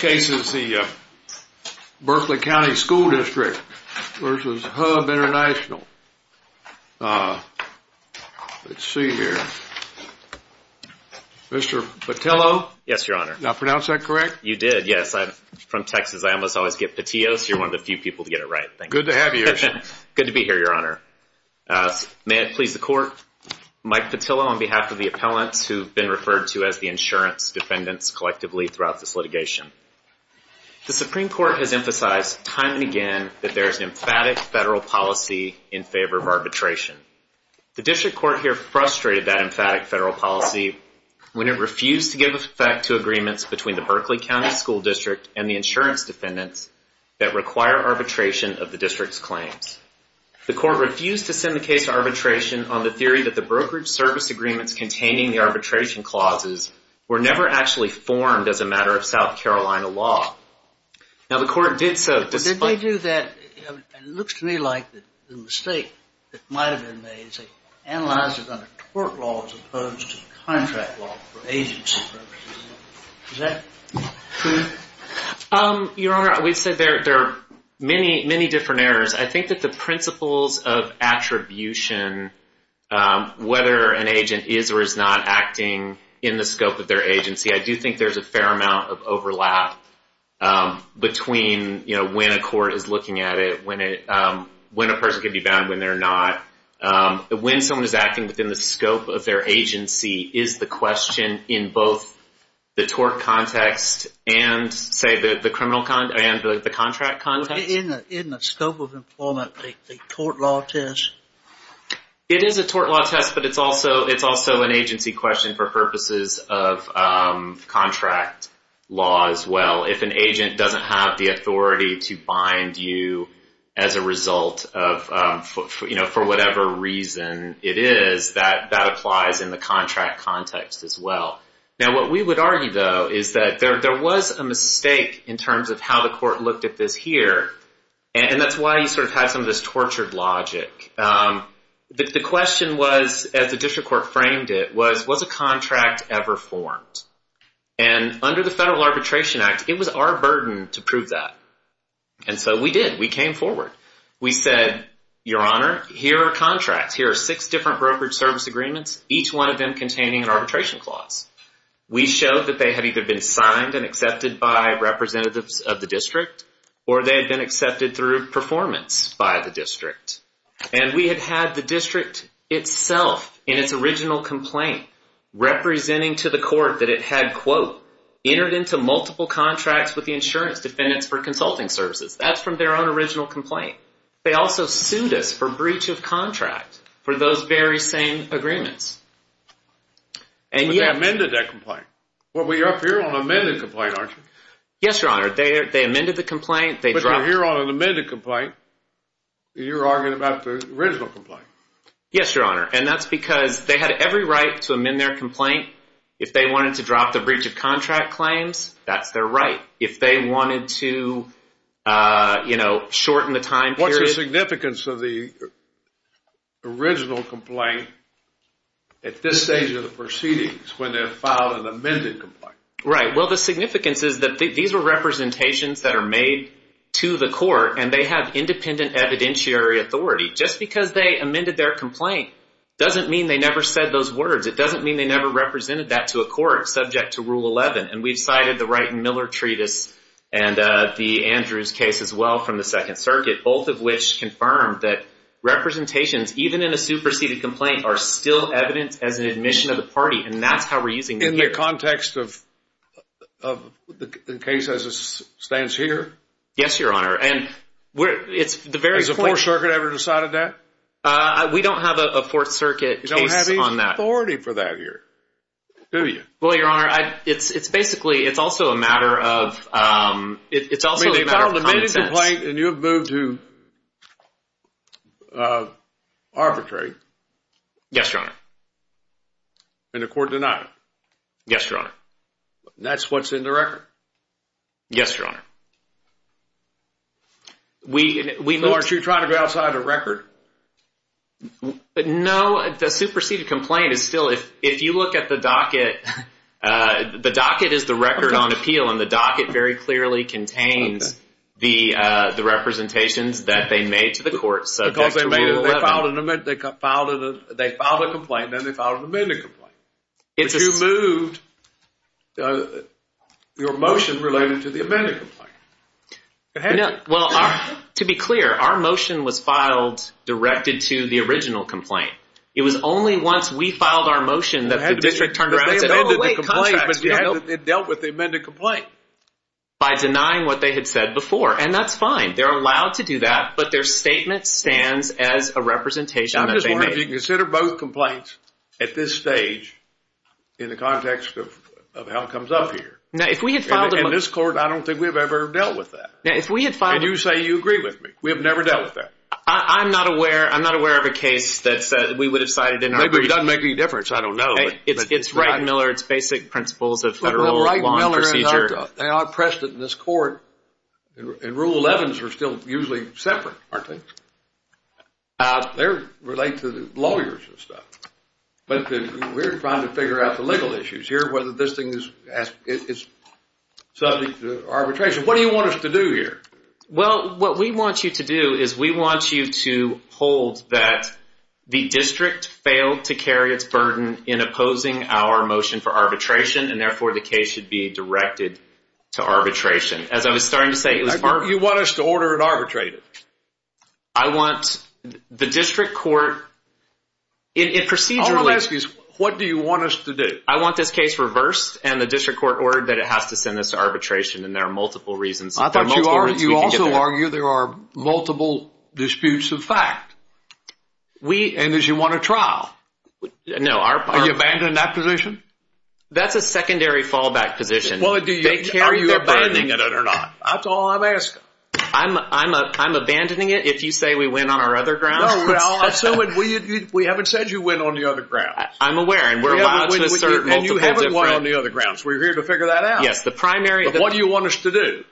This case is the Berkley County School District v. HUB International. Let's see here. Mr. Petillo? Yes, Your Honor. Did I pronounce that correct? You did, yes. I'm from Texas. I almost always get Petillos. You're one of the few people to get it right. Thank you. Good to have you, Your Honor. Good to be here, Your Honor. May it please the Court. Mike Petillo on behalf of the appellants who have been referred to as the insurance defendants collectively throughout this litigation. The Supreme Court has emphasized time and again that there is an emphatic federal policy in favor of arbitration. The District Court here frustrated that emphatic federal policy when it refused to give effect to agreements between the Berkley County School District and the insurance defendants that require arbitration of the District's claims. The Court refused to send the case to arbitration on the theory that the brokerage service agreements containing the arbitration clauses were never actually formed as a matter of South Carolina law. Now, the Court did so despite... Did they do that? It looks to me like the mistake that might have been made is they analyzed it under tort law as opposed to contract law for agency purposes. Is that true? Your Honor, we've said there are many, many different errors. I think that the principles of attribution, whether an agent is or is not acting in the scope of their agency, I do think there's a fair amount of overlap between, you know, when a court is looking at it, when a person can be bound, when they're not. When someone is acting within the scope of their agency is the question in both the tort context and, say, the contract context. In the scope of employment, the tort law test? It is a tort law test, but it's also an agency question for purposes of contract law as well. If an agent doesn't have the authority to bind you as a result of, you know, for whatever reason it is, that applies in the contract context as well. Now, what we would argue, though, is that there was a mistake in terms of how the court looked at this here, and that's why you sort of had some of this tortured logic. The question was, as the district court framed it, was, was a contract ever formed? And under the Federal Arbitration Act, it was our burden to prove that. And so we did. We came forward. We said, Your Honor, here are contracts. Here are six different brokerage service agreements, each one of them containing an arbitration clause. We showed that they had either been signed and accepted by representatives of the district or they had been accepted through performance by the district. And we had had the district itself in its original complaint representing to the court that it had, quote, entered into multiple contracts with the insurance defendants for consulting services. That's from their own original complaint. They also sued us for breach of contract for those very same agreements. But they amended that complaint. Well, you're up here on an amended complaint, aren't you? Yes, Your Honor. They amended the complaint. But you're up here on an amended complaint. You're arguing about the original complaint. Yes, Your Honor. And that's because they had every right to amend their complaint. If they wanted to drop the breach of contract claims, that's their right. If they wanted to, you know, shorten the time period. What's the significance of the original complaint at this stage of the proceedings when they filed an amended complaint? Right. Well, the significance is that these were representations that are made to the court and they have independent evidentiary authority. Just because they amended their complaint doesn't mean they never said those words. It doesn't mean they never represented that to a court subject to Rule 11. And we've cited the Wright and Miller Treatise and the Andrews case as well from the Second Circuit, both of which confirmed that representations, even in a superseded complaint, are still evidence as an admission of the party. And that's how we're using them here. In the context of the case as it stands here? Yes, Your Honor. Has the Fourth Circuit ever decided that? We don't have a Fourth Circuit case on that. You don't have any authority for that here, do you? Well, Your Honor, it's basically, it's also a matter of, it's also a matter of context. You filed an amended complaint and you have moved to arbitrate? Yes, Your Honor. And the court denied it? Yes, Your Honor. That's what's in the record? Yes, Your Honor. So aren't you trying to go outside the record? No. The superseded complaint is still, if you look at the docket, the docket is the record on appeal and the docket very clearly contains the representations that they made to the court subject to Rule 11. They filed a complaint and then they filed an amended complaint. But you moved your motion related to the amended complaint. Well, to be clear, our motion was filed directed to the original complaint. It was only once we filed our motion that the district turned around and said, oh, wait, contract. It dealt with the amended complaint. By denying what they had said before, and that's fine. They're allowed to do that, but their statement stands as a representation that they made. I'm just wondering if you consider both complaints at this stage in the context of how it comes up here. In this court, I don't think we've ever dealt with that. And you say you agree with me. We have never dealt with that. I'm not aware of a case that we would have cited in our case. Maybe it doesn't make any difference. I don't know. It's Wright and Miller. It's basic principles of federal law and procedure. They outpressed it in this court. And Rule 11s are still usually separate, aren't they? They relate to the lawyers and stuff. But we're trying to figure out the legal issues here, whether this thing is subject to arbitration. What do you want us to do here? Well, what we want you to do is we want you to hold that the district failed to carry its burden in opposing our motion for arbitration, and therefore the case should be directed to arbitration. As I was starting to say, it was arbitrary. You want us to order it arbitrated. I want the district court procedurally. All I'm asking is what do you want us to do? I want this case reversed and the district court ordered that it has to send us to arbitration, and there are multiple reasons. I thought you also argued there are multiple disputes of fact. And did you want a trial? No. Are you abandoning that position? That's a secondary fallback position. Are you abandoning it or not? That's all I'm asking. I'm abandoning it if you say we win on our other grounds. We haven't said you win on the other grounds. I'm aware. And you haven't won on the other grounds. We're here to figure that out. What do you want us to do?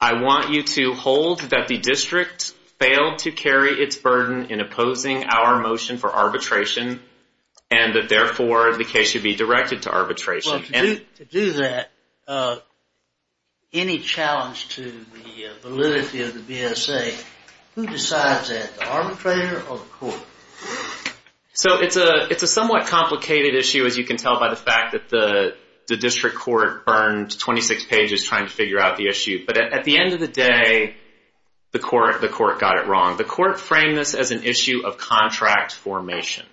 I want you to hold that the district failed to carry its burden in opposing our motion for arbitration, and that therefore the case should be directed to arbitration. Well, to do that, any challenge to the validity of the BSA, who decides that, the arbitrator or the court? So it's a somewhat complicated issue, as you can tell by the fact that the district court burned 26 pages trying to figure out the issue. But at the end of the day, the court got it wrong. The court framed this as an issue of contract formation.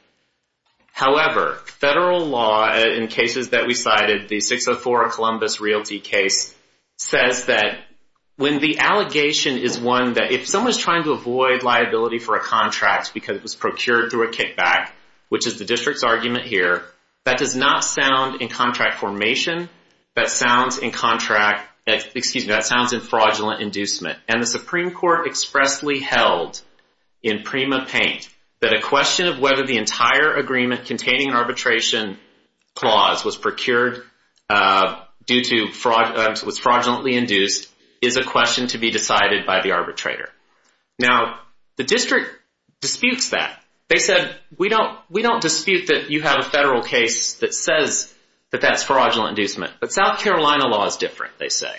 However, federal law in cases that we cited, the 604 Columbus Realty case, says that when the allegation is one that if someone is trying to avoid liability for a contract because it was procured through a kickback, which is the district's argument here, that does not sound in contract formation. That sounds in fraudulent inducement. And the Supreme Court expressly held in Prima Paint that a question of whether the entire agreement containing arbitration clause was procured due to fraud, was fraudulently induced, is a question to be decided by the arbitrator. Now, the district disputes that. They said, we don't dispute that you have a federal case that says that that's fraudulent inducement. But South Carolina law is different, they say.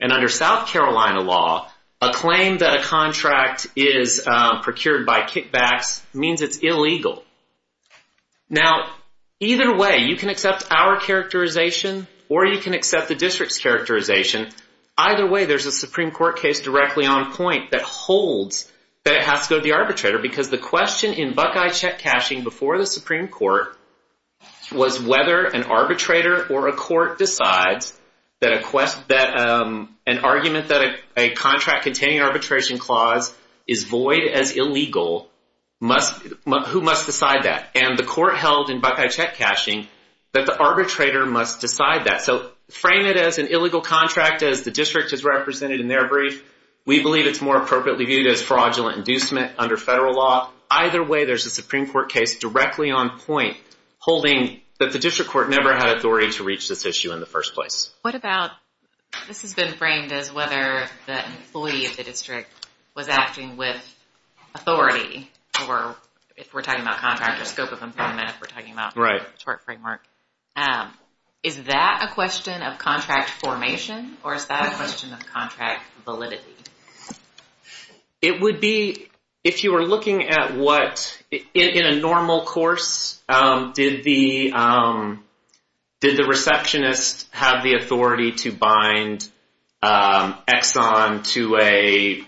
And under South Carolina law, a claim that a contract is procured by kickbacks means it's illegal. Now, either way, you can accept our characterization or you can accept the district's characterization. Either way, there's a Supreme Court case directly on point that holds that it has to go to the arbitrator because the question in Buckeye check cashing before the Supreme Court was whether an arbitrator or a court decides that an argument that a contract containing arbitration clause is void as illegal, who must decide that? And the court held in Buckeye check cashing that the arbitrator must decide that. So frame it as an illegal contract as the district has represented in their brief. We believe it's more appropriately viewed as fraudulent inducement under federal law. Either way, there's a Supreme Court case directly on point holding that the district court never had authority to reach this issue in the first place. What about, this has been framed as whether the employee of the district was acting with authority or if we're talking about contractor scope of employment, if we're talking about the tort framework. Is that a question of contract formation or is that a question of contract validity? It would be, if you were looking at what, in a normal course, did the receptionist have the authority to bind Exxon to a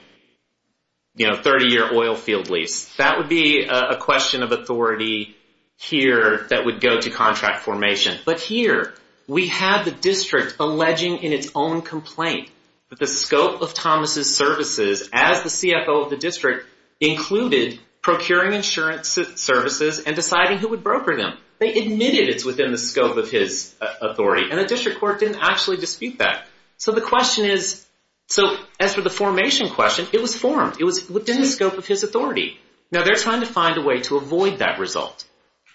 30-year oil field lease? That would be a question of authority here that would go to contract formation. But here we have the district alleging in its own complaint that the scope of Thomas' services as the CFO of the district included procuring insurance services and deciding who would broker them. They admitted it's within the scope of his authority and the district court didn't actually dispute that. So the question is, so as for the formation question, it was formed. It was within the scope of his authority. Now they're trying to find a way to avoid that result.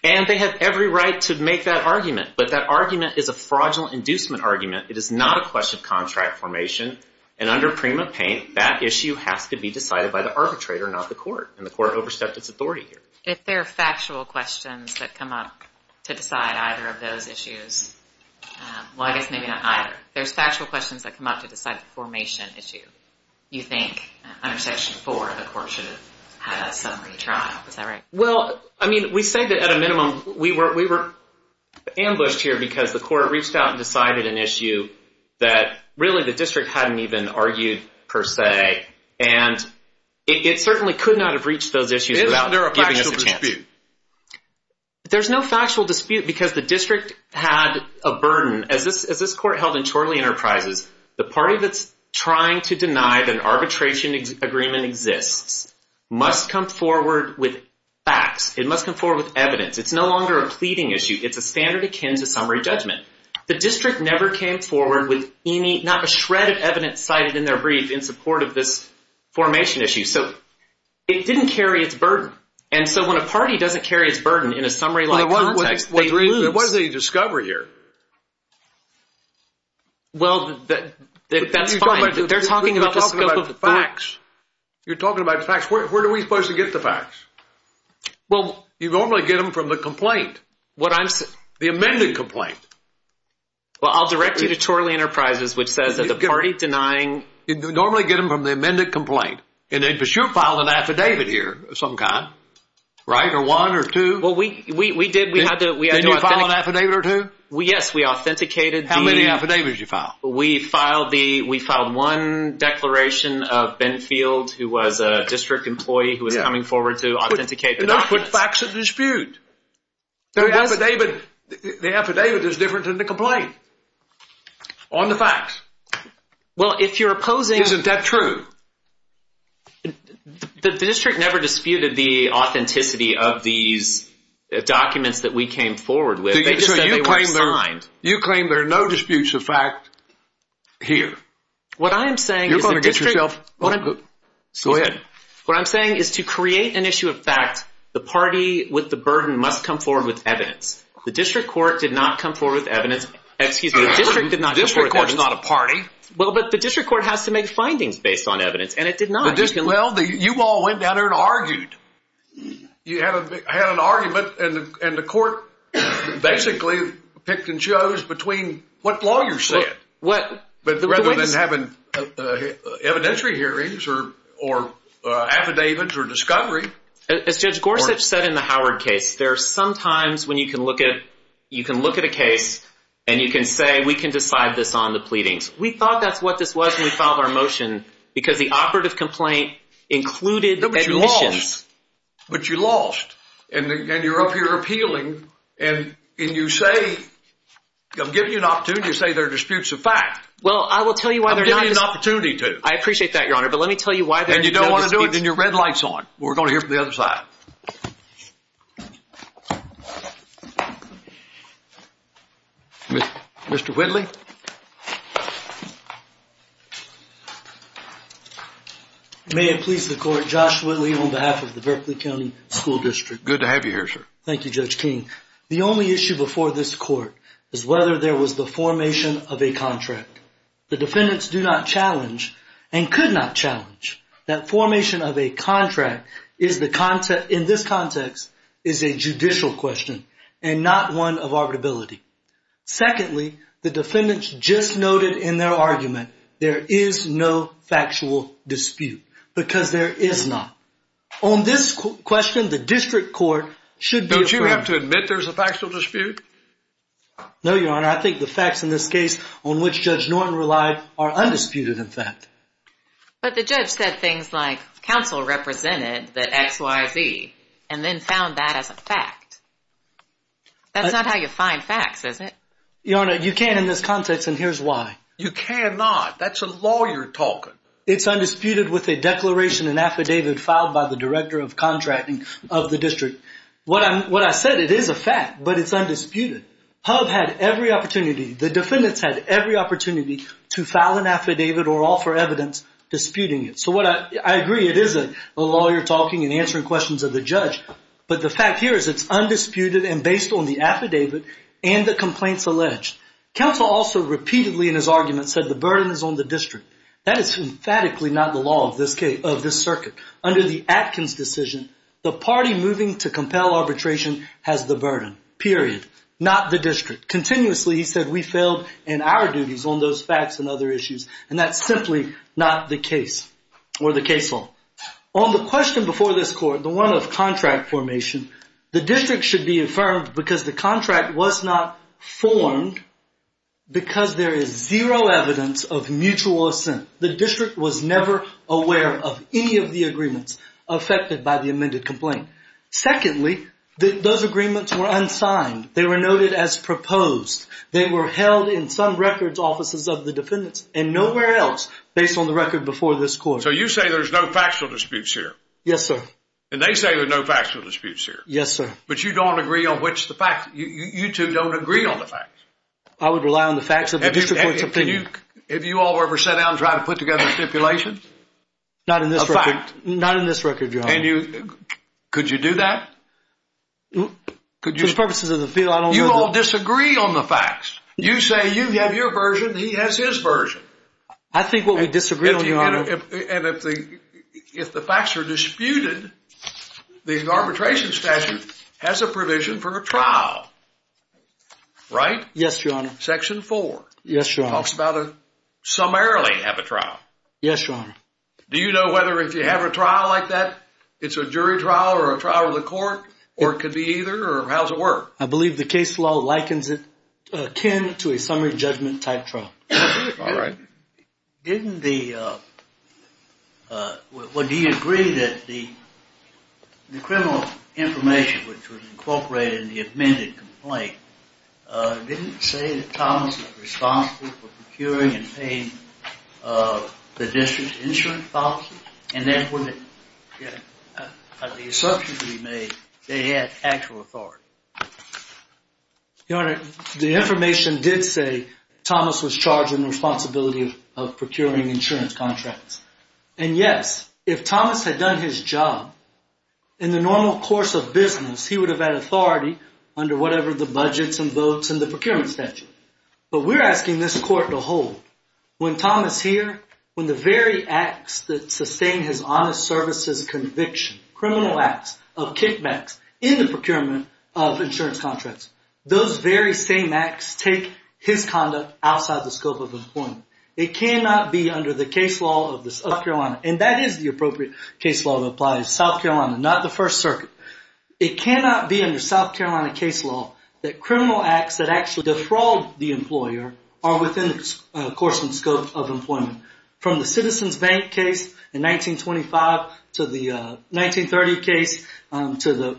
And they have every right to make that argument. But that argument is a fraudulent inducement argument. It is not a question of contract formation. And under Prima Paint, that issue has to be decided by the arbitrator, not the court. And the court overstepped its authority here. If there are factual questions that come up to decide either of those issues, well, I guess maybe not either. There's factual questions that come up to decide the formation issue. You think under Section 4, the court should have had a summary trial. Is that right? Well, I mean, we say that at a minimum we were ambushed here because the court reached out and decided an issue that really the district hadn't even argued per se. And it certainly could not have reached those issues without giving us a chance. Is there a factual dispute? There's no factual dispute because the district had a burden. As this court held in Chorley Enterprises, the party that's trying to deny that an arbitration agreement exists must come forward with facts. It must come forward with evidence. It's no longer a pleading issue. It's a standard akin to summary judgment. The district never came forward with any, not a shred of evidence cited in their brief in support of this formation issue. So it didn't carry its burden. And so when a party doesn't carry its burden in a summary-like context, they lose. What did they discover here? Well, that's fine. They're talking about the scope of the facts. You're talking about the facts. Where are we supposed to get the facts? You normally get them from the complaint, the amended complaint. Well, I'll direct you to Chorley Enterprises, which says that the party denying- You normally get them from the amended complaint. And they for sure filed an affidavit here of some kind, right, or one or two. Well, we did. Didn't you file an affidavit or two? Yes, we authenticated the- How many affidavits did you file? We filed one declaration of Benfield, who was a district employee who was coming forward to authenticate the documents. Don't put facts in dispute. The affidavit is different than the complaint on the facts. Well, if you're opposing- Isn't that true? The district never disputed the authenticity of these documents that we came forward with. They just said they weren't signed. You claim there are no disputes of fact here. What I am saying is the district- You're going to get yourself- Go ahead. What I'm saying is to create an issue of fact, the party with the burden must come forward with evidence. The district court did not come forward with evidence. Excuse me, the district did not come forward with evidence. The district court's not a party. Well, but the district court has to make findings based on evidence, and it did not. Well, you all went down there and argued. You had an argument, and the court basically picked and chose between what lawyers said. But rather than having evidentiary hearings or affidavits or discovery- As Judge Gorsuch said in the Howard case, there are some times when you can look at a case and you can say, We thought that's what this was when we filed our motion because the operative complaint included admissions. But you lost, and you're up here appealing, and you say- I'm giving you an opportunity to say there are disputes of fact. Well, I will tell you why there's not- I'm giving you an opportunity to. I appreciate that, Your Honor, but let me tell you why there are no disputes- And you don't want to do it, and your red light's on. We're going to hear from the other side. Mr. Whitley? May it please the court, Josh Whitley on behalf of the Berkeley County School District. Good to have you here, sir. Thank you, Judge King. The only issue before this court is whether there was the formation of a contract. The defendants do not challenge and could not challenge that formation of a contract in this context is a judicial question and not one of arbitrability. Secondly, the defendants just noted in their argument there is no factual dispute because there is not. On this question, the district court should be- Don't you have to admit there's a factual dispute? No, Your Honor. I think the facts in this case on which Judge Norton relied are undisputed, in fact. But the judge said things like counsel represented the XYZ and then found that as a fact. That's not how you find facts, is it? Your Honor, you can't in this context, and here's why. You cannot. That's a lawyer talking. It's undisputed with a declaration, an affidavit filed by the director of contracting of the district. What I said, it is a fact, but it's undisputed. HUB had every opportunity, the defendants had every opportunity to file an affidavit or offer evidence disputing it. So I agree it is a lawyer talking and answering questions of the judge, but the fact here is it's undisputed and based on the affidavit and the complaints alleged. Counsel also repeatedly in his argument said the burden is on the district. That is emphatically not the law of this circuit. Under the Atkins decision, the party moving to compel arbitration has the burden, period. Not the district. Continuously he said we failed in our duties on those facts and other issues, and that's simply not the case or the case law. On the question before this court, the one of contract formation, the district should be affirmed because the contract was not formed because there is zero evidence of mutual assent. The district was never aware of any of the agreements affected by the amended complaint. Secondly, those agreements were unsigned. They were noted as proposed. They were held in some records offices of the defendants and nowhere else based on the record before this court. So you say there's no factual disputes here. Yes, sir. And they say there's no factual disputes here. Yes, sir. But you don't agree on which the facts, you two don't agree on the facts. I would rely on the facts of the district court's opinion. Have you all ever sat down and tried to put together a stipulation? Not in this record. A fact. Not in this record, Your Honor. Could you do that? For the purposes of the field, I don't know. You all disagree on the facts. You say you have your version, he has his version. I think what we disagree on, Your Honor. And if the facts are disputed, the arbitration statute has a provision for a trial, right? Yes, Your Honor. Section 4. Yes, Your Honor. Talks about a summarily have a trial. Yes, Your Honor. Do you know whether if you have a trial like that, it's a jury trial or a trial of the court? Or it could be either? Or how does it work? I believe the case law likens it akin to a summary judgment type trial. All right. Didn't the, well, do you agree that the criminal information, which was incorporated in the amended complaint, didn't say that Thomas was responsible for procuring and paying the district's insurance policy? And therefore, the assumption to be made, they had actual authority. Your Honor, the information did say Thomas was charged in the responsibility of procuring insurance contracts. And, yes, if Thomas had done his job, in the normal course of business, he would have had authority under whatever the budgets and votes and the procurement statute. But we're asking this court to hold. When Thomas here, when the very acts that sustain his honest services conviction, criminal acts of kickbacks in the procurement of insurance contracts, those very same acts take his conduct outside the scope of employment. It cannot be under the case law of South Carolina. And that is the appropriate case law to apply to South Carolina, not the First Circuit. It cannot be under South Carolina case law that criminal acts that actually defraud the employer are within the course and scope of employment. From the Citizens Bank case in 1925 to the 1930 case to the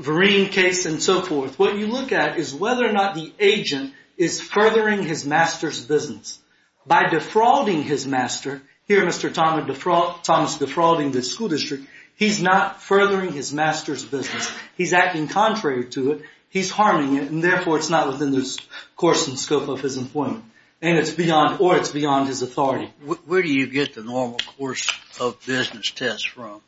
Vereen case and so forth, what you look at is whether or not the agent is furthering his master's business. By defrauding his master, here Mr. Thomas defrauding the school district, he's not furthering his master's business. He's acting contrary to it. He's harming it. And therefore, it's not within the course and scope of his employment. And it's beyond or it's beyond his authority. Where do you get the normal course of business test from?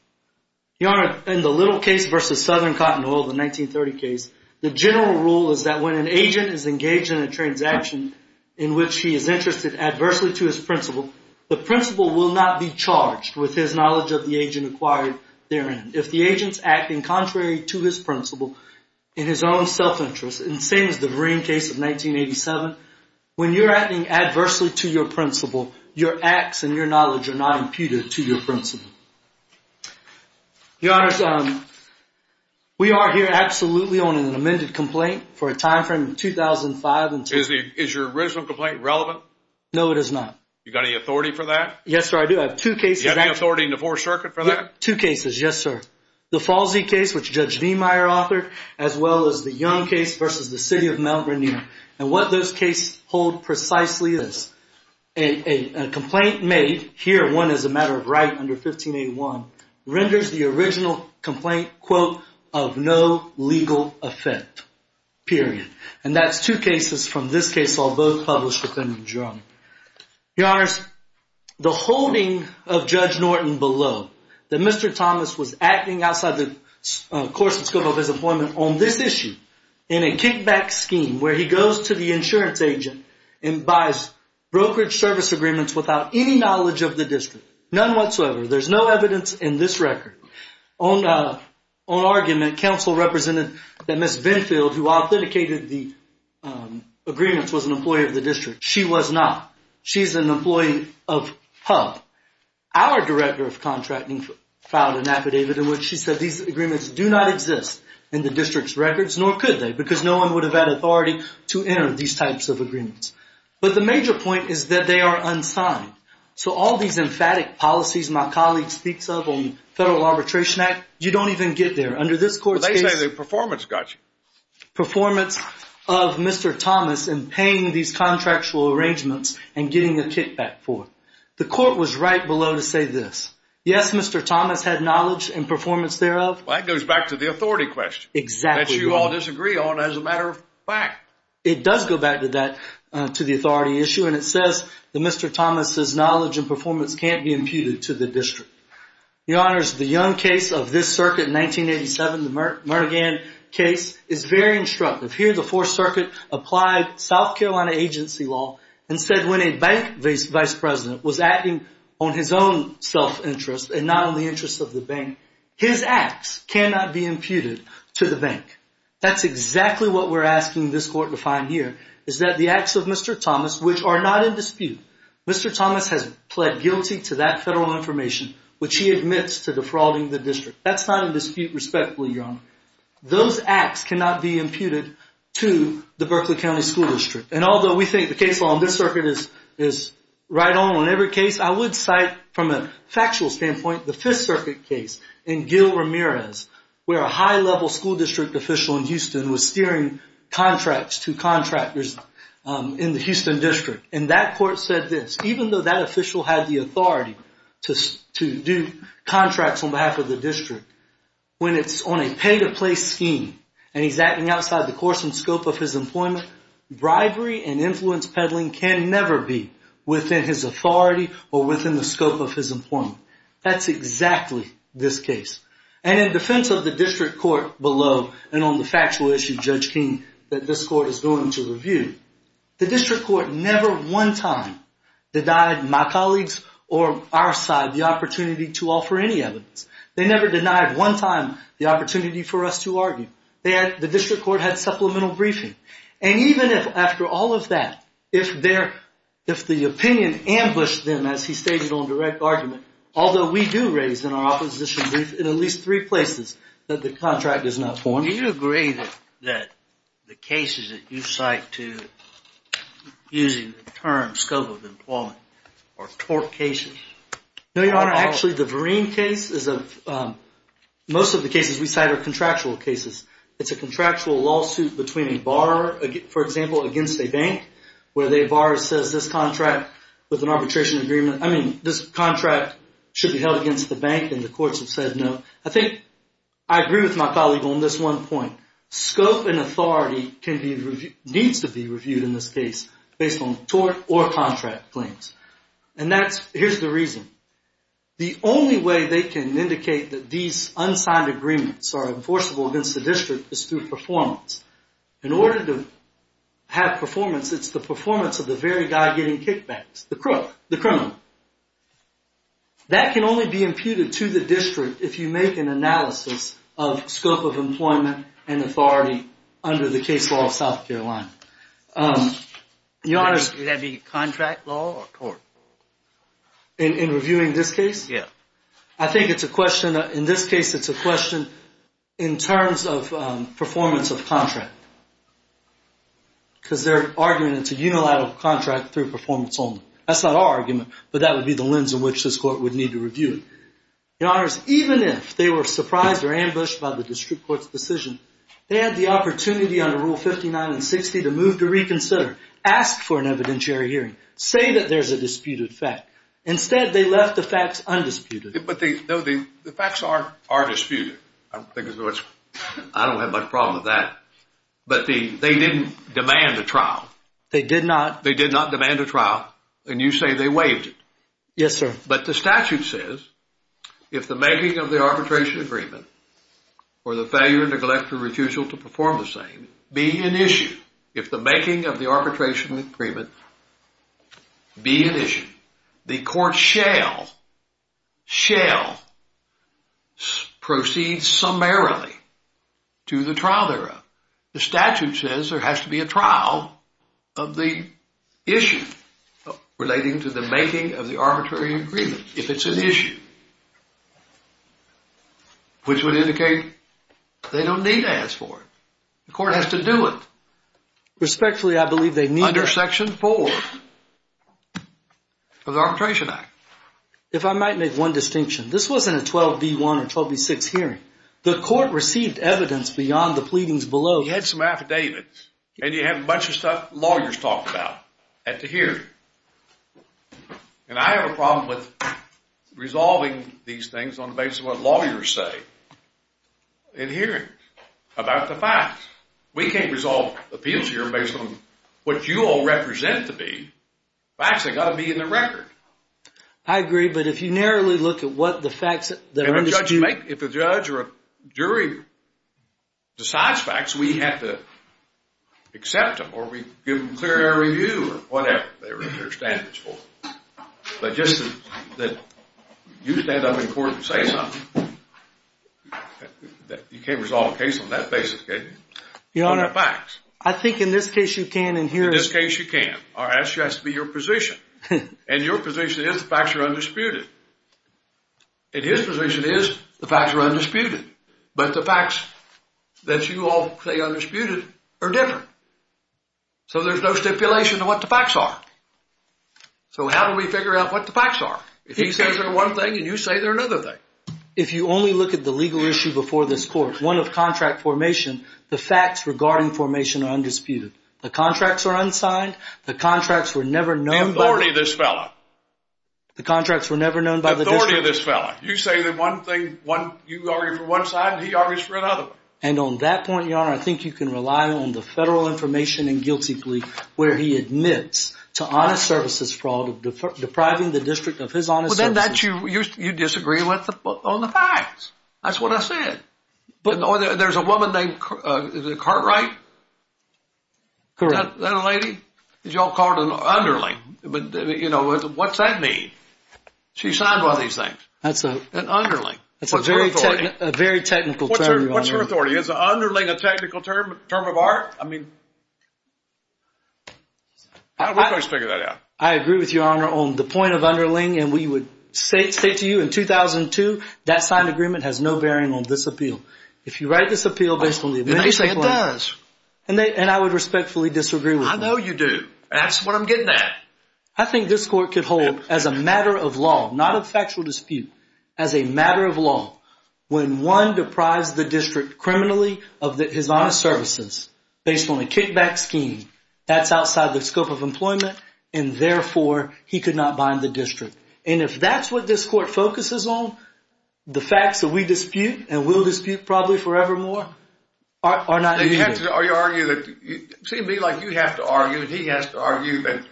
Your Honor, in the little case versus Southern Cotton Oil, the 1930 case, the general rule is that when an agent is engaged in a transaction in which he is interested adversely to his principal, the principal will not be charged with his knowledge of the agent acquired therein. If the agent's acting contrary to his principal in his own self-interest, and same as the Vereen case of 1987, when you're acting adversely to your principal, your acts and your knowledge are not imputed to your principal. Your Honor, we are here absolutely on an amended complaint for a time frame of 2005. Is your original complaint relevant? No, it is not. You got any authority for that? Yes, sir, I do. I have two cases. You have any authority in the Fourth Circuit for that? Two cases, yes, sir. The Falsey case, which Judge Niemeyer authored, as well as the Young case versus the City of Mount Rainier, and what those cases hold precisely is a complaint made, here one is a matter of right under 1581, renders the original complaint, quote, of no legal effect, period. And that's two cases from this case all both published with Henry Jerome. Your Honors, the holding of Judge Norton below, that Mr. Thomas was acting outside the course and scope of his employment on this issue, in a kickback scheme where he goes to the insurance agent and buys brokerage service agreements without any knowledge of the district, none whatsoever. There's no evidence in this record. On argument, counsel represented that Ms. Vinfield, who authenticated the agreements, was an employee of the district. She was not. She's an employee of HUB. Our director of contracting filed an affidavit in which she said these agreements do not exist in the district's records, nor could they, because no one would have had authority to enter these types of agreements. But the major point is that they are unsigned. So all these emphatic policies my colleague speaks of on the Federal Arbitration Act, you don't even get there. Under this court's case… They say the performance got you. Performance of Mr. Thomas in paying these contractual arrangements and getting a kickback for it. The court was right below to say this. Yes, Mr. Thomas had knowledge and performance thereof. That goes back to the authority question. Exactly. That you all disagree on as a matter of fact. It does go back to that, to the authority issue, and it says that Mr. Thomas' knowledge and performance can't be imputed to the district. Your Honors, the Young case of this circuit in 1987, the Mernigan case, is very instructive. Here the Fourth Circuit applied South Carolina agency law and said when a bank vice president was acting on his own self-interest and not on the interest of the bank, his acts cannot be imputed to the bank. That's exactly what we're asking this court to find here, is that the acts of Mr. Thomas, which are not in dispute, Mr. Thomas has pled guilty to that federal information, which he admits to defrauding the district. That's not in dispute respectfully, Your Honor. Those acts cannot be imputed to the Berkeley County School District. And although we think the case law on this circuit is right on in every case, I would cite from a factual standpoint the Fifth Circuit case in Gil Ramirez, where a high-level school district official in Houston was steering contracts to contractors in the Houston district. And that court said this, even though that official had the authority to do contracts on behalf of the district, when it's on a pay-to-place scheme, and he's acting outside the course and scope of his employment, bribery and influence peddling can never be within his authority or within the scope of his employment. That's exactly this case. And in defense of the district court below, and on the factual issue, Judge King, that this court is going to review, the district court never one time denied my colleagues or our side the opportunity to offer any evidence. They never denied one time the opportunity for us to argue. The district court had supplemental briefing. And even after all of that, if the opinion ambushed them, as he stated on direct argument, although we do raise in our opposition brief in at least three places that the contract is not formed. Do you agree that the cases that you cite to, using the term scope of employment, are tort cases? No, Your Honor. Actually, the Vereen case is a, most of the cases we cite are contractual cases. It's a contractual lawsuit between a borrower, for example, against a bank, where the borrower says this contract with an arbitration agreement, I mean, this contract should be held against the bank, and the courts have said no. I think I agree with my colleague on this one point. Scope and authority needs to be reviewed in this case based on tort or contract claims. And that's, here's the reason. The only way they can indicate that these unsigned agreements are enforceable against the district is through performance. In order to have performance, it's the performance of the very guy getting kickbacks, the crook, the criminal. That can only be imputed to the district if you make an analysis of scope of employment and authority under the case law of South Carolina. Your Honor, would that be contract law or tort? In reviewing this case? Yeah. I think it's a question, in this case it's a question in terms of performance of contract. Because their argument is it's a unilateral contract through performance only. That's not our argument, but that would be the lens in which this court would need to review it. Your Honors, even if they were surprised or ambushed by the district court's decision, they had the opportunity under Rule 59 and 60 to move to reconsider, ask for an evidentiary hearing, say that there's a disputed fact. Instead, they left the facts undisputed. But the facts are disputed. I don't have much problem with that. But they didn't demand a trial. They did not. They did not demand a trial, and you say they waived it. Yes, sir. But the statute says if the making of the arbitration agreement or the failure, neglect, or refusal to perform the same be an issue, if the making of the arbitration agreement be an issue, the court shall, shall proceed summarily to the trial thereof. The statute says there has to be a trial of the issue relating to the making of the arbitrary agreement if it's an issue, which would indicate they don't need to ask for it. The court has to do it. Respectfully, I believe they need to. Under Section 4 of the Arbitration Act. If I might make one distinction, this wasn't a 12B1 or 12B6 hearing. The court received evidence beyond the pleadings below. You had some affidavits, and you have a bunch of stuff lawyers talk about at the hearing. And I have a problem with resolving these things on the basis of what lawyers say in hearings about the facts. We can't resolve appeals hearings based on what you all represent to be. Facts have got to be in the record. I agree, but if you narrowly look at what the facts that are disputed. If a judge or a jury decides facts, we have to accept them or we give them clear air review or whatever they're standards for. But just that you stand up in court and say something. You can't resolve a case on that basis, can you? Your Honor, I think in this case you can in hearings. In this case you can. Our answer has to be your position. And your position is the facts are undisputed. And his position is the facts are undisputed. But the facts that you all say are undisputed are different. So there's no stipulation of what the facts are. So how do we figure out what the facts are? If he says they're one thing and you say they're another thing. If you only look at the legal issue before this court, one of contract formation, the facts regarding formation are undisputed. The contracts are unsigned. The contracts were never known by. Authority this fellow. The contracts were never known by the. Authority of this fellow. You say they're one thing. You argue for one side and he argues for another one. And on that point, your Honor, I think you can rely on the federal information and guilty plea where he admits to honest services fraud, depriving the district of his honest services. Well, then that you disagree with on the facts. That's what I said. There's a woman named Cartwright. Correct. That lady. Is y'all called an underling? But, you know, what's that mean? She signed one of these things. That's an underling. That's a very technical term, Your Honor. What's her authority? Is an underling a technical term of art? I mean. We're going to figure that out. I agree with Your Honor on the point of underling. And we would say to you in 2002, that signed agreement has no bearing on this appeal. If you write this appeal based on the. You say it does. And I would respectfully disagree with you. I know you do. That's what I'm getting at. I think this court could hold as a matter of law, not a factual dispute, as a matter of law, when one deprives the district criminally of his honest services based on a kickback scheme, that's outside the scope of employment, and therefore he could not bind the district. And if that's what this court focuses on, the facts that we dispute and will dispute probably forevermore, are not needed. See me like you have to argue, and he has to argue that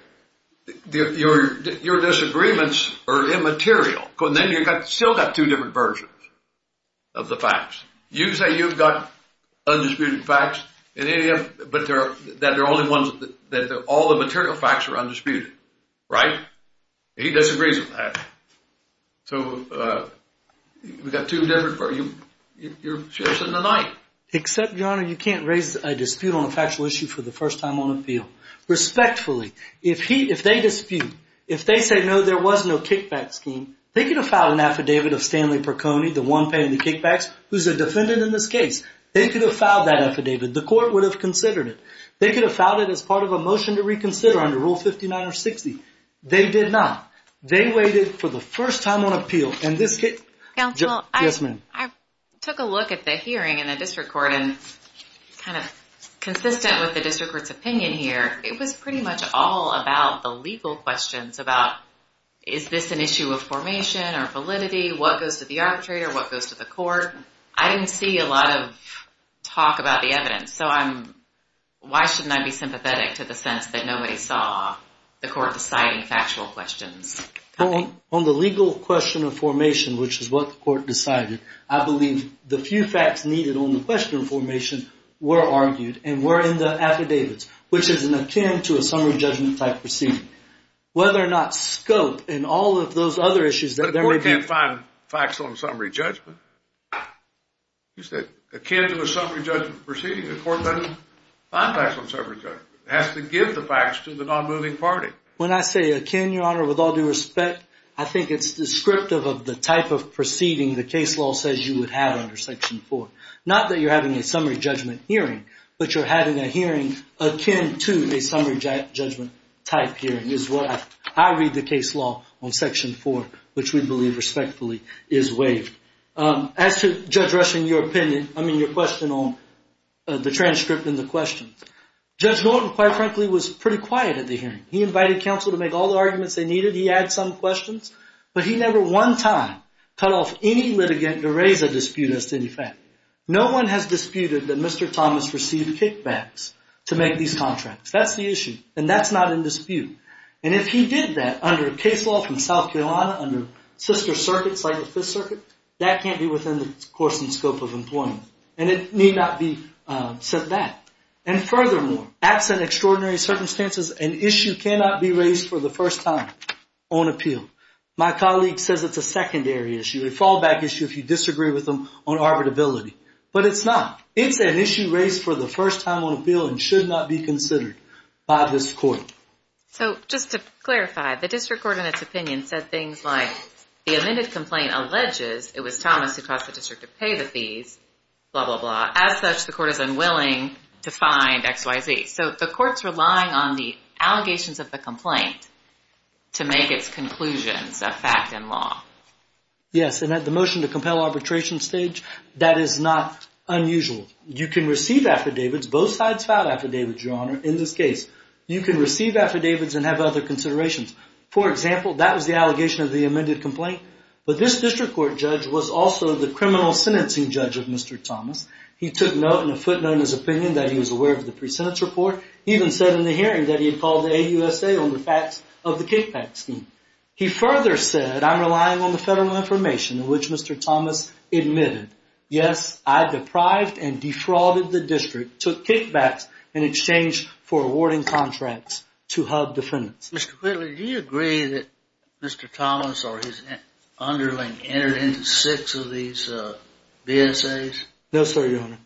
your disagreements are immaterial. Then you've still got two different versions of the facts. You say you've got undisputed facts, but that all the material facts are undisputed. Right? He disagrees with that. So we've got two different. You're chasing the night. Except, Your Honor, you can't raise a dispute on a factual issue for the first time on appeal. Respectfully, if they dispute, if they say no, there was no kickback scheme, they could have filed an affidavit of Stanley Perconi, the one paying the kickbacks, who's a defendant in this case. They could have filed that affidavit. The court would have considered it. They could have filed it as part of a motion to reconsider under Rule 59 or 60. They did not. They waited for the first time on appeal. Counsel. Yes, ma'am. I took a look at the hearing in the district court and kind of consistent with the district court's opinion here, it was pretty much all about the legal questions, about is this an issue of formation or validity, what goes to the arbitrator, what goes to the court. I didn't see a lot of talk about the evidence, so why shouldn't I be sympathetic to the sense that nobody saw the court deciding factual questions? On the legal question of formation, which is what the court decided, I believe the few facts needed on the question of formation were argued and were in the affidavits, which is akin to a summary judgment-type proceeding. Whether or not scope and all of those other issues that there may be. But the court can't find facts on summary judgment. You said akin to a summary judgment proceeding. The court doesn't find facts on summary judgment. It has to give the facts to the non-moving party. When I say akin, Your Honor, with all due respect, I think it's descriptive of the type of proceeding the case law says you would have under Section 4. Not that you're having a summary judgment hearing, but you're having a hearing akin to a summary judgment-type hearing, is what I read the case law on Section 4, which we believe respectfully is waived. As to Judge Rushing, your question on the transcript and the question, Judge Norton, quite frankly, was pretty quiet at the hearing. He invited counsel to make all the arguments they needed. He had some questions, but he never one time cut off any litigant to raise a dispute as to any fact. No one has disputed that Mr. Thomas received kickbacks to make these contracts. That's the issue, and that's not in dispute. And if he did that under a case law from South Carolina, under sister circuits like the Fifth Circuit, that can't be within the course and scope of employment, and it need not be said that. And furthermore, absent extraordinary circumstances, an issue cannot be raised for the first time on appeal. My colleague says it's a secondary issue, a fallback issue if you disagree with him on arbitrability. But it's not. It's an issue raised for the first time on appeal and should not be considered by this court. So just to clarify, the district court in its opinion said things like, the amended complaint alleges it was Thomas who caused the district to pay the fees, blah, blah, blah. As such, the court is unwilling to find XYZ. So the court's relying on the allegations of the complaint to make its conclusions a fact in law. Yes, and at the motion to compel arbitration stage, that is not unusual. You can receive affidavits, both sides filed affidavits, Your Honor, in this case. You can receive affidavits and have other considerations. For example, that was the allegation of the amended complaint, but this district court judge was also the criminal sentencing judge of Mr. Thomas. He took note and a footnote in his opinion that he was aware of the pre-sentence report. He even said in the hearing that he had called the AUSA on the facts of the kickbacks scheme. He further said, I'm relying on the federal information, which Mr. Thomas admitted. Yes, I deprived and defrauded the district, took kickbacks in exchange for awarding contracts to hub defendants. Mr. Whitley, do you agree that Mr. Thomas or his underling entered into six of these BSAs? No, sir, Your Honor.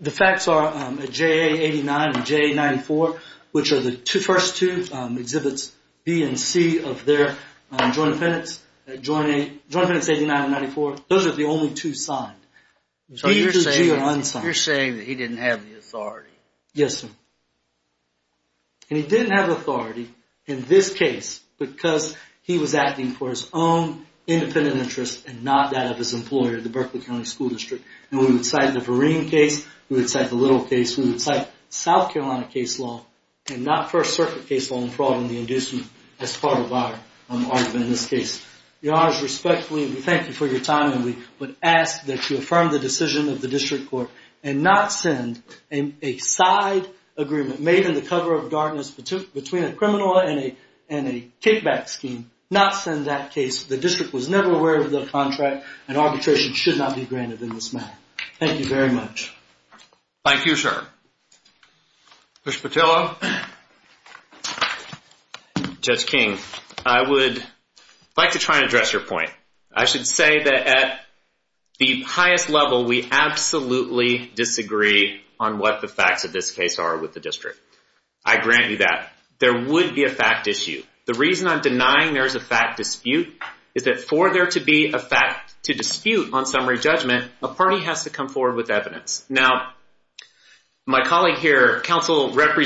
The facts are JA89 and JA94, which are the first two exhibits, B and C of their joint defendants. Joint defendants 89 and 94, those are the only two signed. B through G are unsigned. You're saying that he didn't have the authority. Yes, sir. And he didn't have authority in this case because he was acting for his own independent interest and not that of his employer, the Berkeley County School District. And we would cite the Vereen case. We would cite the Little case. We would cite South Carolina case law and not First Circuit case law and fraud in the inducement as part of our argument in this case. Your Honor, respectfully, we thank you for your time and we would ask that you affirm the decision of the district court and not send a side agreement made in the cover of darkness between a criminal and a kickback scheme. Not send that case. The district was never aware of the contract and arbitration should not be granted in this matter. Thank you very much. Thank you, sir. Judge Petillo. Judge King, I would like to try and address your point. I should say that at the highest level, we absolutely disagree on what the facts of this case are with the district. I grant you that. There would be a fact issue. The reason I'm denying there is a fact dispute is that for there to be a fact to dispute on summary judgment, a party has to come forward with evidence. Now, my colleague here, counsel, emphatically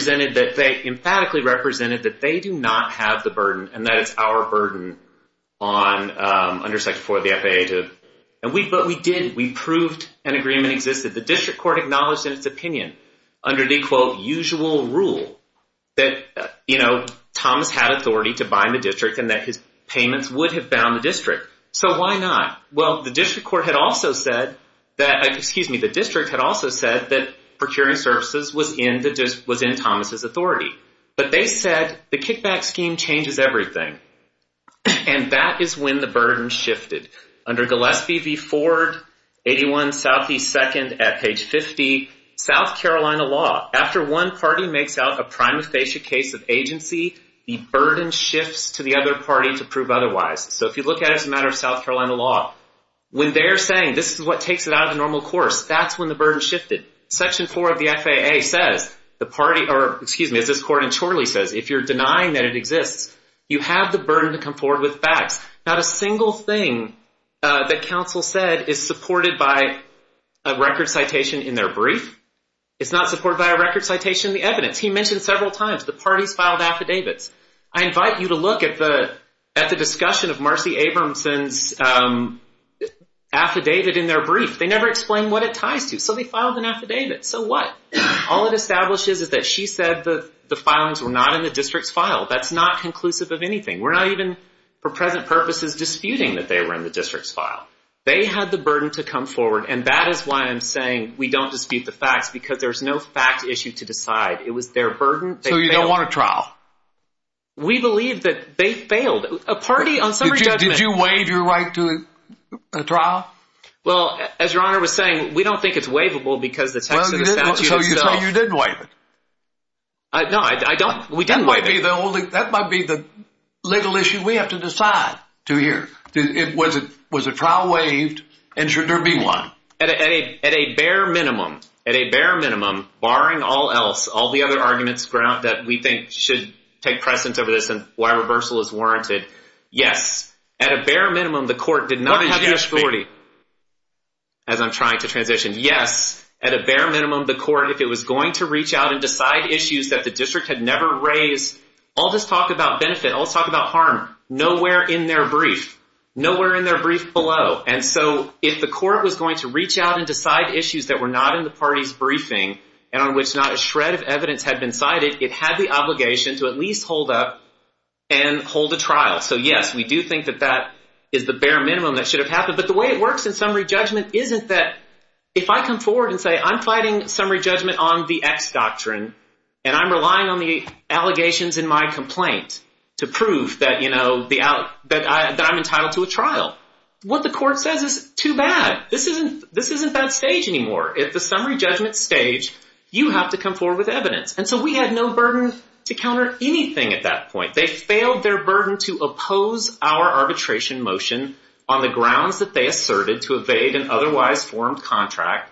represented that they do not have the burden and that it's our burden under Section 4 of the FAA. But we did. We proved an agreement existed. The district court acknowledged in its opinion under the, quote, usual rule that, you know, Thomas had authority to bind the district and that his payments would have bound the district. So why not? Well, the district court had also said that, excuse me, the district had also said that procuring services was in Thomas' authority. But they said the kickback scheme changes everything. And that is when the burden shifted. Under Gillespie v. Ford, 81 Southeast 2nd at page 50, South Carolina law, after one party makes out a prima facie case of agency, the burden shifts to the other party to prove otherwise. So if you look at it as a matter of South Carolina law, when they're saying this is what takes it out of the normal course, that's when the burden shifted. Section 4 of the FAA says the party or, excuse me, as this court in Chorley says, if you're denying that it exists, you have the burden to come forward with facts. Not a single thing that counsel said is supported by a record citation in their brief. It's not supported by a record citation in the evidence. He mentioned several times the parties filed affidavits. I invite you to look at the discussion of Marcy Abramson's affidavit in their brief. They never explain what it ties to. So they filed an affidavit. So what? All it establishes is that she said the filings were not in the district's file. That's not conclusive of anything. We're not even, for present purposes, disputing that they were in the district's file. They had the burden to come forward, and that is why I'm saying we don't dispute the facts, because there's no fact issue to decide. It was their burden. So you don't want a trial? We believe that they failed. Did you waive your right to a trial? Well, as Your Honor was saying, we don't think it's waivable because the text of the statute itself. So you say you didn't waive it? No, we didn't waive it. That might be the legal issue we have to decide to hear. Was a trial waived, and should there be one? At a bare minimum, at a bare minimum, barring all else, all the other arguments that we think should take precedence over this and why reversal is warranted, yes. At a bare minimum, the court did not have the authority. What did you ask me? As I'm trying to transition. Yes, at a bare minimum, the court, if it was going to reach out and decide issues that the district had never raised, all this talk about benefit, all this talk about harm, nowhere in their brief, nowhere in their brief below. And so if the court was going to reach out and decide issues that were not in the party's briefing and on which not a shred of evidence had been cited, it had the obligation to at least hold up and hold a trial. So yes, we do think that that is the bare minimum that should have happened. But the way it works in summary judgment isn't that if I come forward and say I'm fighting summary judgment on the X doctrine, and I'm relying on the allegations in my complaint to prove that I'm entitled to a trial, what the court says is too bad. This isn't that stage anymore. At the summary judgment stage, you have to come forward with evidence. And so we had no burden to counter anything at that point. They failed their burden to oppose our arbitration motion on the grounds that they asserted to evade an otherwise formed contract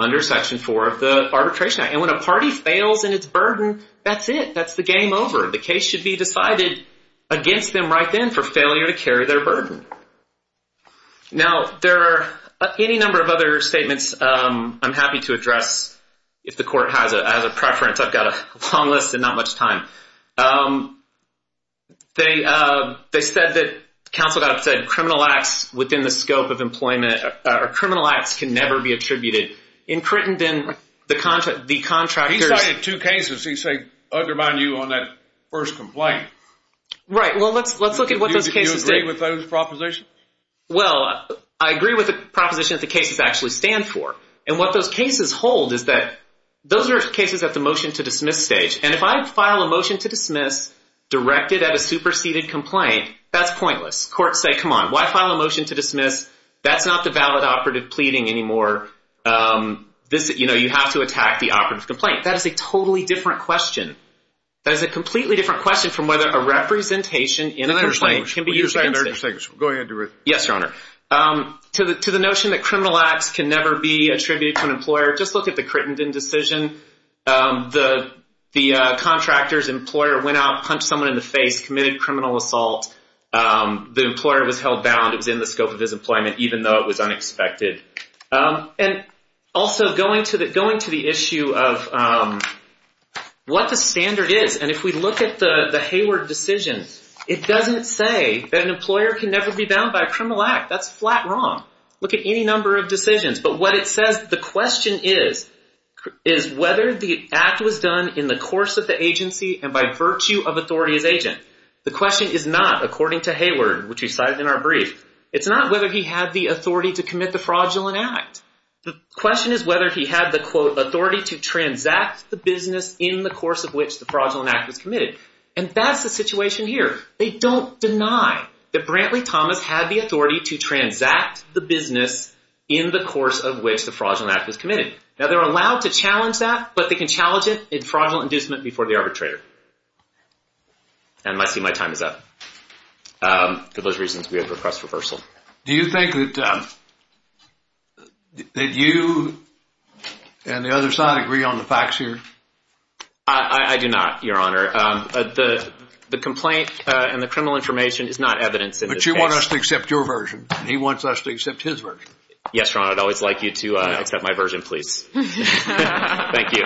under Section 4 of the Arbitration Act. And when a party fails in its burden, that's it. It's over. The case should be decided against them right then for failure to carry their burden. Now, there are any number of other statements I'm happy to address if the court has a preference. I've got a long list and not much time. They said that counsel got upset. Criminal acts within the scope of employment or criminal acts can never be attributed. In Crittenden, the contractors... Right. Well, let's look at what those cases... Do you agree with those propositions? Well, I agree with the proposition that the cases actually stand for. And what those cases hold is that those are cases at the motion to dismiss stage. And if I file a motion to dismiss directed at a superseded complaint, that's pointless. Courts say, come on, why file a motion to dismiss? That's not the valid operative pleading anymore. You know, you have to attack the operative complaint. That is a totally different question. That is a completely different question from whether a representation in a complaint can be used against it. Yes, Your Honor. To the notion that criminal acts can never be attributed to an employer, just look at the Crittenden decision. The contractor's employer went out, punched someone in the face, committed criminal assault. The employer was held bound. It was in the scope of his employment, even though it was unexpected. And also going to the issue of what the standard is, and if we look at the Hayward decision, it doesn't say that an employer can never be bound by a criminal act. That's flat wrong. Look at any number of decisions. But what it says, the question is, is whether the act was done in the course of the agency and by virtue of authority as agent. The question is not, according to Hayward, which we cited in our brief, it's not whether he had the authority to commit the fraudulent act. The question is whether he had the, quote, authority to transact the business in the course of which the fraudulent act was committed. And that's the situation here. They don't deny that Brantley Thomas had the authority to transact the business in the course of which the fraudulent act was committed. Now, they're allowed to challenge that, but they can challenge it in fraudulent inducement before the arbitrator. And I see my time is up. For those reasons, we would request reversal. Do you think that you and the other side agree on the facts here? I do not, Your Honor. The complaint and the criminal information is not evidence in this case. But you want us to accept your version. He wants us to accept his version. Yes, Your Honor. I'd always like you to accept my version, please. Thank you.